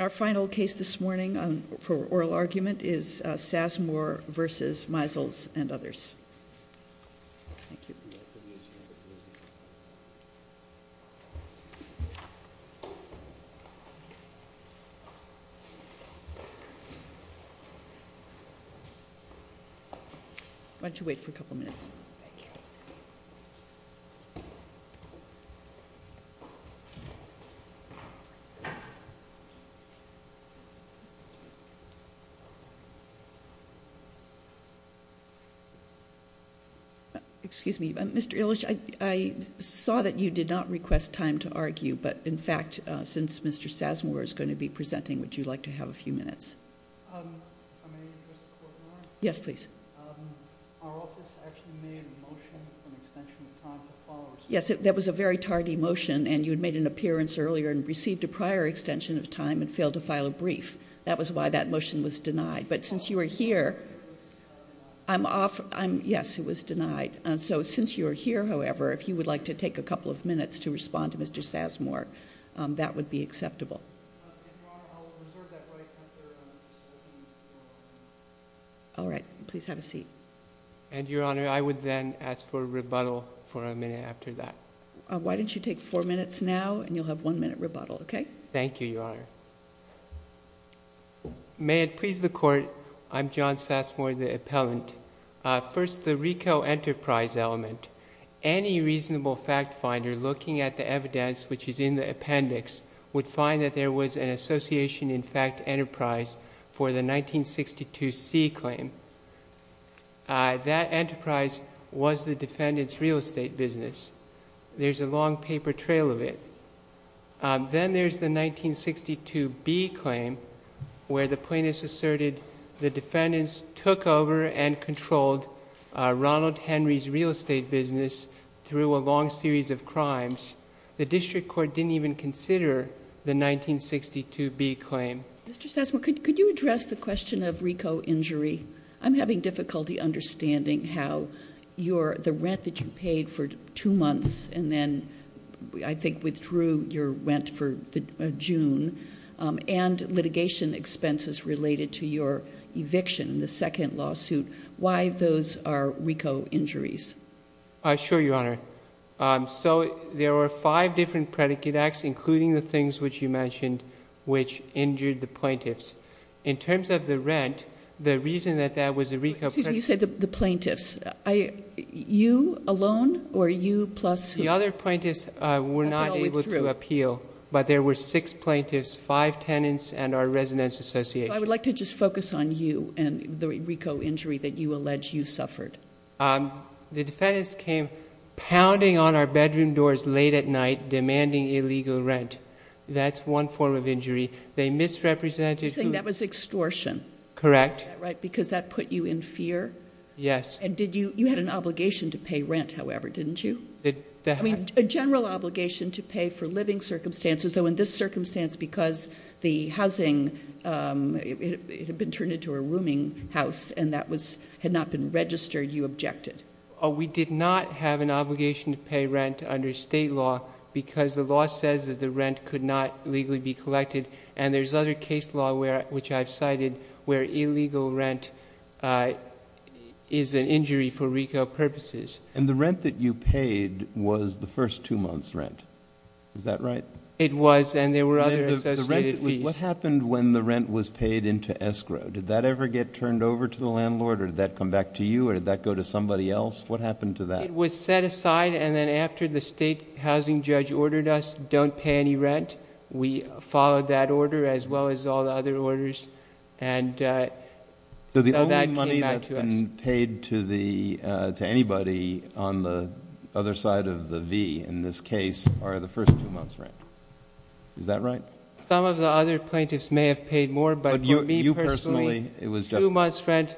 Our final case this morning for oral argument is Sassamore v. Meisels and others. Thank you. Why don't you wait for a couple minutes. Thank you. Excuse me. Mr. Illich, I saw that you did not request time to argue, but in fact, since Mr. Sassamore is going to be presenting, would you like to have a few minutes? If I may address the court, Your Honor? Yes, please. Our office actually made a motion for an extension of time to follow. Yes, that was a very tardy motion, and you had made an appearance earlier and received a prior extension of time and failed to file a brief. That was why that motion was denied. But since you are here, I'm off – yes, it was denied. So since you are here, however, if you would like to take a couple of minutes to respond to Mr. Sassamore, that would be acceptable. If you are, I'll reserve that right. All right. Please have a seat. And, Your Honor, I would then ask for a rebuttal for a minute after that. Why don't you take four minutes now, and you'll have one minute rebuttal, okay? Thank you, Your Honor. May it please the Court, I'm John Sassamore, the appellant. First, the RICO enterprise element. Any reasonable fact finder looking at the evidence which is in the appendix would find that there was an association in fact enterprise for the 1962C claim. That enterprise was the defendant's real estate business. There's a long paper trail of it. Then there's the 1962B claim where the plaintiffs asserted the defendants took over and controlled Ronald Henry's real estate business through a long series of crimes. The district court didn't even consider the 1962B claim. Mr. Sassamore, could you address the question of RICO injury? I'm having difficulty understanding how the rent that you paid for two months and then I think withdrew your rent for June and litigation expenses related to your eviction, the second lawsuit, why those are RICO injuries? Sure, Your Honor. So there were five different predicate acts, including the things which you mentioned, which injured the plaintiffs. In terms of the rent, the reason that that was a RICO... Excuse me. You said the plaintiffs. You alone or you plus who? The other plaintiffs were not able to appeal, but there were six plaintiffs, five tenants, and our residence association. I would like to just focus on you and the RICO injury that you allege you suffered. The defendants came pounding on our bedroom doors late at night demanding illegal rent. That's one form of injury. They misrepresented... You're saying that was extortion. Correct. Right, because that put you in fear? Yes. And did you... you had an obligation to pay rent, however, didn't you? I mean, a general obligation to pay for living circumstances, though in this circumstance, because the housing had been turned into a rooming house and that had not been registered, you objected. We did not have an obligation to pay rent under state law because the law says that the rent could not legally be collected, and there's other case law, which I've cited, where illegal rent is an injury for RICO purposes. And the rent that you paid was the first two months' rent. Is that right? It was, and there were other associated fees. What happened when the rent was paid into escrow? Did that ever get turned over to the landlord, or did that come back to you, or did that go to somebody else? What happened to that? It was set aside, and then after the state housing judge ordered us don't pay any rent, we followed that order as well as all the other orders, and so that came back to us. So the only money that's been paid to anybody on the other side of the V in this case are the first two months' rent. Is that right? Some of the other plaintiffs may have paid more, but for me personally... Two months' rent,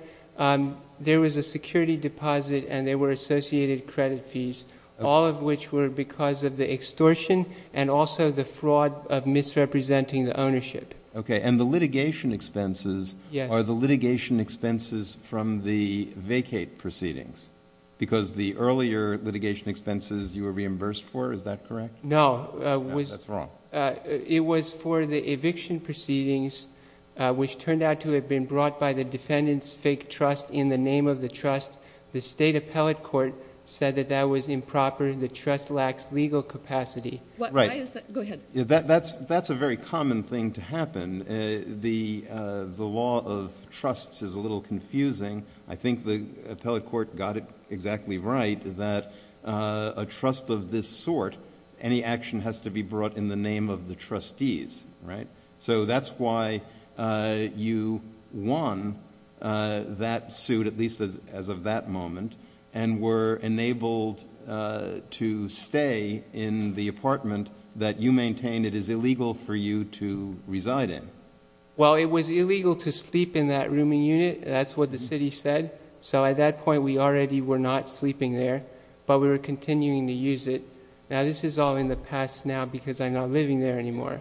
there was a security deposit, and there were associated credit fees, all of which were because of the extortion and also the fraud of misrepresenting the ownership. Okay, and the litigation expenses are the litigation expenses from the vacate proceedings because the earlier litigation expenses you were reimbursed for, is that correct? No. That's wrong. It was for the eviction proceedings, which turned out to have been brought by the defendant's fake trust in the name of the trust. The state appellate court said that that was improper. The trust lacks legal capacity. Right. Why is that? Go ahead. That's a very common thing to happen. The law of trusts is a little confusing. I think the appellate court got it exactly right that a trust of this sort, any action has to be brought in the name of the trustees, right? So, that's why you won that suit, at least as of that moment, and were enabled to stay in the apartment that you maintained it is illegal for you to reside in. Well, it was illegal to sleep in that rooming unit. That's what the city said. So, at that point, we already were not sleeping there, but we were continuing to use it. Now, this is all in the past now because I'm not living there anymore.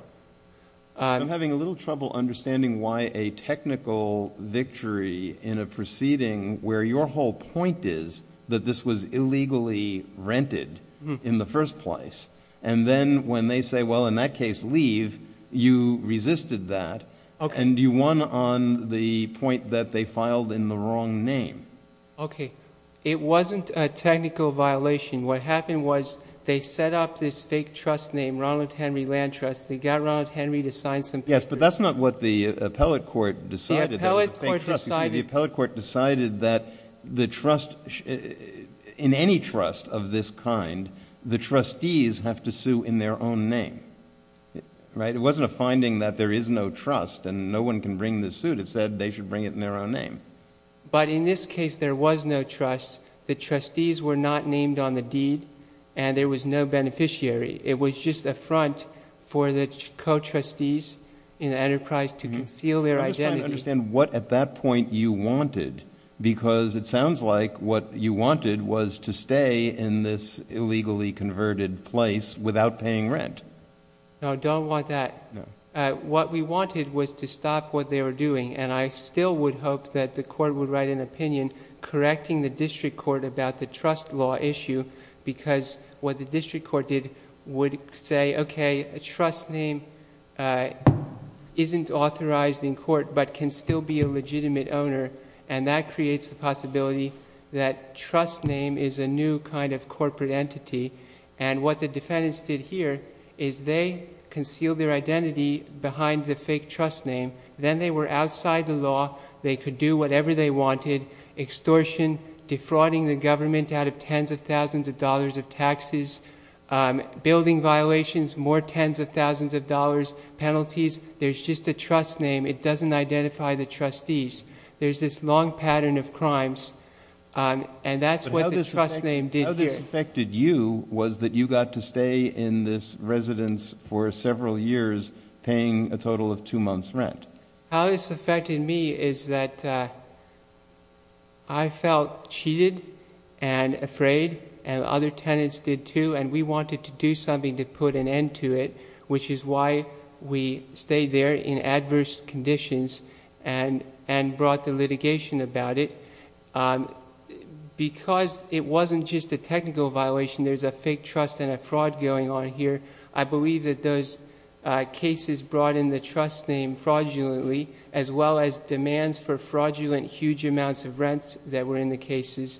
I'm having a little trouble understanding why a technical victory in a proceeding where your whole point is that this was illegally rented in the first place, and then when they say, well, in that case, leave, you resisted that. Okay. And you won on the point that they filed in the wrong name. Okay. It wasn't a technical violation. What happened was they set up this fake trust name, Ronald Henry Land Trust. They got Ronald Henry to sign some papers. Yes, but that's not what the appellate court decided. The appellate court decided that the trust, in any trust of this kind, the trustees have to sue in their own name, right? It wasn't a finding that there is no trust and no one can bring the suit. It said they should bring it in their own name. But in this case, there was no trust. The trustees were not named on the deed, and there was no beneficiary. It was just a front for the co-trustees in the enterprise to conceal their identity. I'm just trying to understand what at that point you wanted because it sounds like what you wanted was to stay in this illegally converted place without paying rent. No, I don't want that. No. What we wanted was to stop what they were doing, and I still would hope that the court would write an opinion correcting the district court about the trust law issue because what the district court did would say, okay, a trust name isn't authorized in court but can still be a legitimate owner, and that creates the possibility that trust name is a new kind of corporate entity. What the defendants did here is they concealed their identity behind the fake trust name. Then they were outside the law. They could do whatever they wanted, extortion, defrauding the government out of tens of thousands of dollars of taxes, building violations, more tens of thousands of dollars, penalties. There's just a trust name. It doesn't identify the trustees. There's this long pattern of crimes, and that's what the trust name did here. How this affected you was that you got to stay in this residence for several years paying a total of two months' rent. How this affected me is that I felt cheated and afraid, and other tenants did too, and we wanted to do something to put an end to it, which is why we stayed there in adverse conditions and brought the litigation about it. Because it wasn't just a technical violation. There's a fake trust and a fraud going on here. I believe that those cases brought in the trust name fraudulently, as well as demands for fraudulent huge amounts of rents that were in the cases,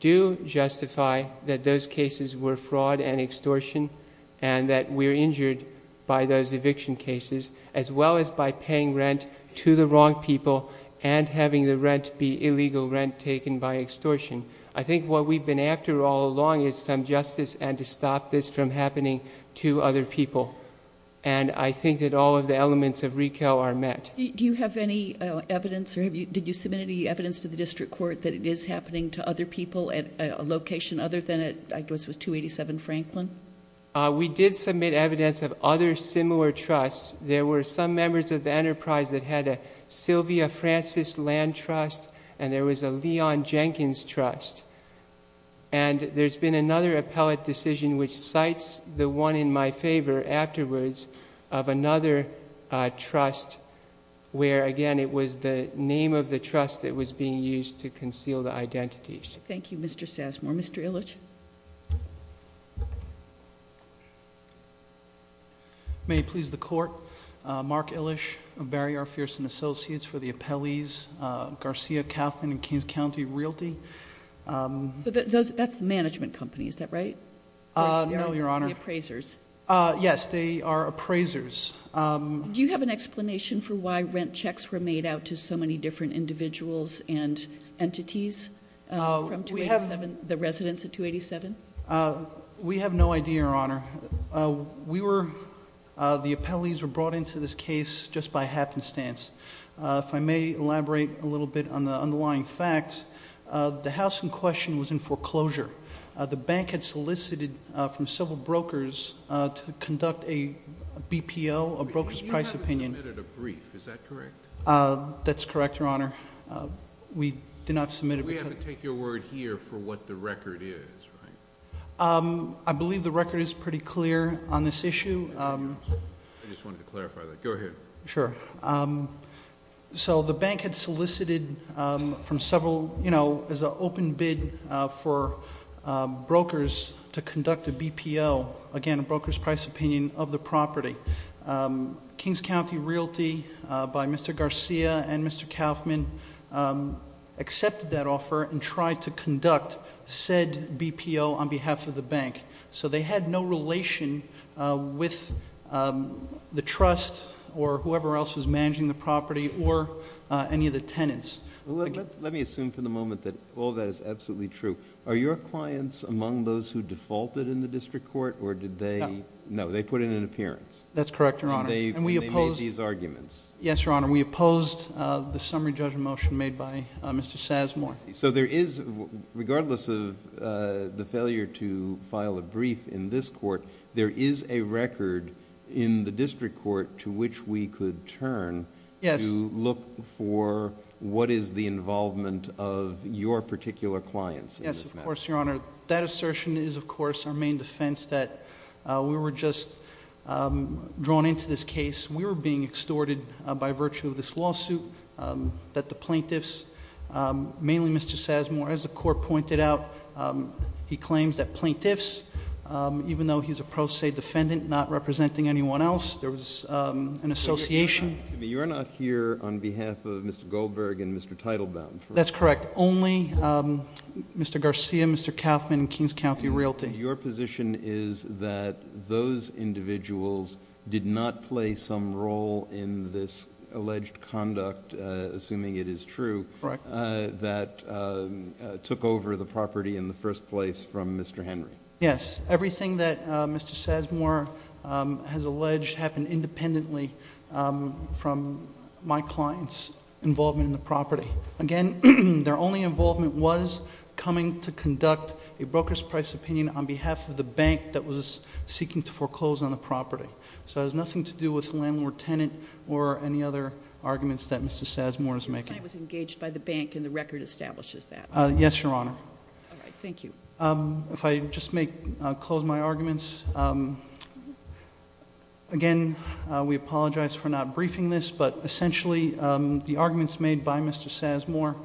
do justify that those cases were fraud and extortion and that we're injured by those eviction cases, as well as by paying rent to the wrong people and having the rent be illegal rent taken by extortion. I think what we've been after all along is some justice and to stop this from happening to other people, and I think that all of the elements of RECAL are met. Do you have any evidence or did you submit any evidence to the district court that it is happening to other people at a location other than... I guess it was 287 Franklin. We did submit evidence of other similar trusts. There were some members of the enterprise that had a Sylvia Francis Land Trust, and there was a Leon Jenkins Trust, and there's been another appellate decision which cites the one in my favor afterwards of another trust where, again, it was the name of the trust that was being used to conceal the identities. Thank you, Mr. Sassmore. Mr. Illich. May it please the Court, Mark Illich of Barry R. Fearson Associates for the appellees, Garcia Kauffman and Kings County Realty. That's the management company, is that right? No, Your Honor. The appraisers. Yes, they are appraisers. Do you have an explanation for why rent checks were made out to so many different individuals and entities from 287, the residents of 287? We have no idea, Your Honor. The appellees were brought into this case just by happenstance. If I may elaborate a little bit on the underlying facts, the house in question was in foreclosure. The bank had solicited from several brokers to conduct a BPO, a broker's price opinion. You haven't submitted a brief, is that correct? That's correct, Your Honor. We did not submit it. We have to take your word here for what the record is, right? I believe the record is pretty clear on this issue. I just wanted to clarify that. Go ahead. Sure. So the bank had solicited from several, you know, as an open bid for brokers to conduct a BPO, again, a broker's price opinion of the property. Kings County Realty by Mr. Garcia and Mr. Kaufman accepted that offer and tried to conduct said BPO on behalf of the bank. So they had no relation with the trust or whoever else was managing the property or any of the tenants. Let me assume for the moment that all that is absolutely true. Are your clients among those who defaulted in the district court, or did they... No. They put in an appearance. That's correct, Your Honor. And they made these arguments. Yes, Your Honor. We opposed the summary judgment motion made by Mr. Sazamore. I see. So there is, regardless of the failure to file a brief in this court, there is a record in the district court to which we could turn... Yes.... to look for what is the involvement of your particular clients in this matter. Yes, of course, Your Honor. That assertion is, of course, our main defense that we were just drawn into this case. We were being extorted by virtue of this lawsuit that the plaintiffs, mainly Mr. Sazamore, as the court pointed out, he claims that plaintiffs, even though he's a pro se defendant, not representing anyone else, there was an association... You are not here on behalf of Mr. Goldberg and Mr. Teitelbaum, correct? That's correct. Only Mr. Garcia, Mr. Kaufman and Kings County Realty. Your position is that those individuals did not play some role in this alleged conduct, assuming it is true... Correct.... that took over the property in the first place from Mr. Henry. Yes. Everything that Mr. Sazamore has alleged happened independently from my client's involvement in the property. Again, their only involvement was coming to conduct a broker's price opinion on behalf of the bank that was seeking to foreclose on the property. So, it has nothing to do with the landlord-tenant or any other arguments that Mr. Sazamore is making. Your client was engaged by the bank and the record establishes that. Yes, Your Honor. All right. Thank you. If I just may close my arguments. Again, we apologize for not briefing this, but essentially, the arguments made by Mr. Sazamore...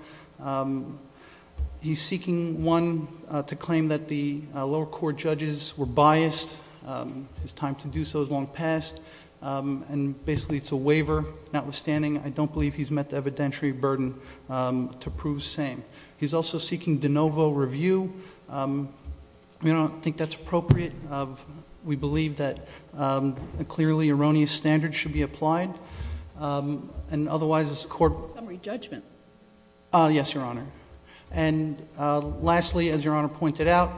He's seeking, one, to claim that the lower court judges were biased. It's time to do so. It's long past. Basically, it's a waiver. Notwithstanding, I don't believe he's met the evidentiary burden to prove same. He's also seeking de novo review. We don't think that's appropriate. We believe that a clearly erroneous standard should be applied. And, otherwise, this court... Summary judgment. Yes, Your Honor. And, lastly, as Your Honor pointed out,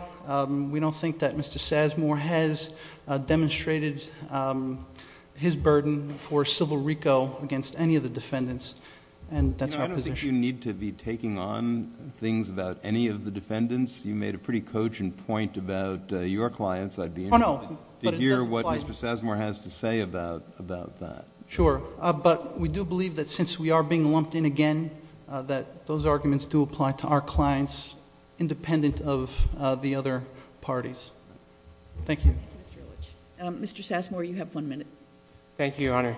we don't think that Mr. Sazamore has demonstrated his burden for civil RICO against any of the defendants. And, that's our position. I don't think you need to be taking on things about any of the defendants. You made a pretty cogent point about your clients. I'd be interested to hear what Mr. Sazamore has to say about that. Sure. But, we do believe that since we are being lumped in again, that those arguments do apply to our clients, independent of the other parties. Thank you. Thank you, Mr. Illich. Thank you, Your Honor.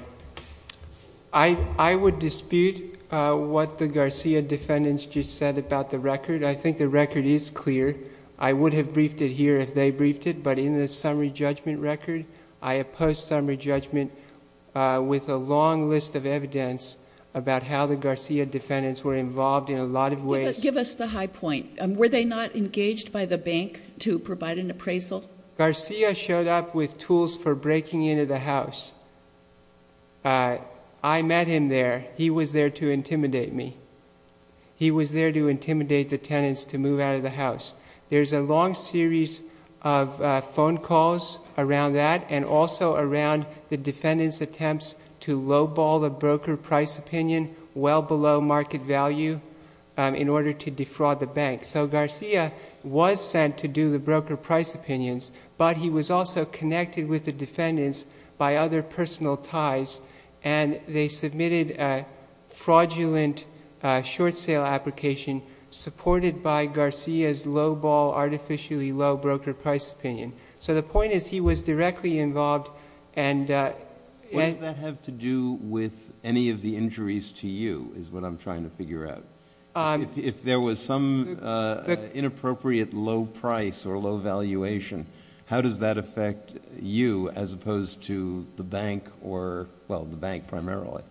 I would dispute what the Garcia defendants just said about the record. I think the record is clear. I would have briefed it here if they briefed it. But, in the summary judgment record, I oppose summary judgment with a long list of evidence about how the Garcia defendants were involved in a lot of ways. Give us the high point. Were they not engaged by the bank to provide an appraisal? Garcia showed up with tools for breaking into the house. I met him there. He was there to intimidate me. He was there to intimidate the tenants to move out of the house. There's a long series of phone calls around that and also around the defendants' attempts to lowball the broker price opinion well below market value in order to defraud the bank. Garcia was sent to do the broker price opinions, but he was also connected with the defendants by other personal ties. They submitted a fraudulent short sale application supported by Garcia's lowball, artificially low broker price opinion. The point is he was directly involved and... What does that have to do with any of the injuries to you is what I'm trying to figure out. If there was some inappropriate low price or low valuation, how does that affect you as opposed to the bank or, well, the bank primarily?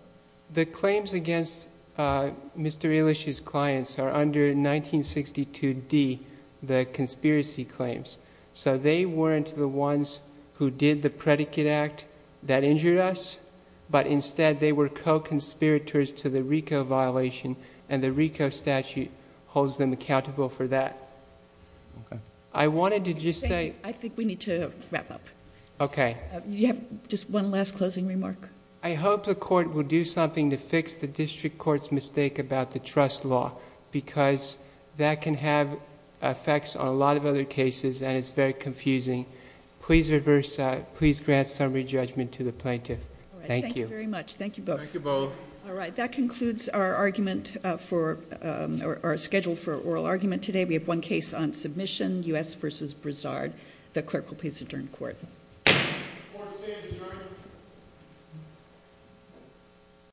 The claims against Mr. Elish's clients are under 1962D, the conspiracy claims. They weren't the ones who did the predicate act that injured us, but instead they were co-conspirators to the RICO violation and the RICO statute holds them accountable for that. I wanted to just say... I think we need to wrap up. Okay. Do you have just one last closing remark? I hope the court will do something to fix the district court's mistake about the trust law because that can have effects on a lot of other cases and it's very confusing. Please reverse that. Please grant summary judgment to the plaintiff. Thank you. All right. Thank you very much. Thank you both. Thank you both. All right. That concludes our schedule for oral argument today. We have one case on submission, U.S. v. Broussard. The clerk will please adjourn the court. Court is adjourned.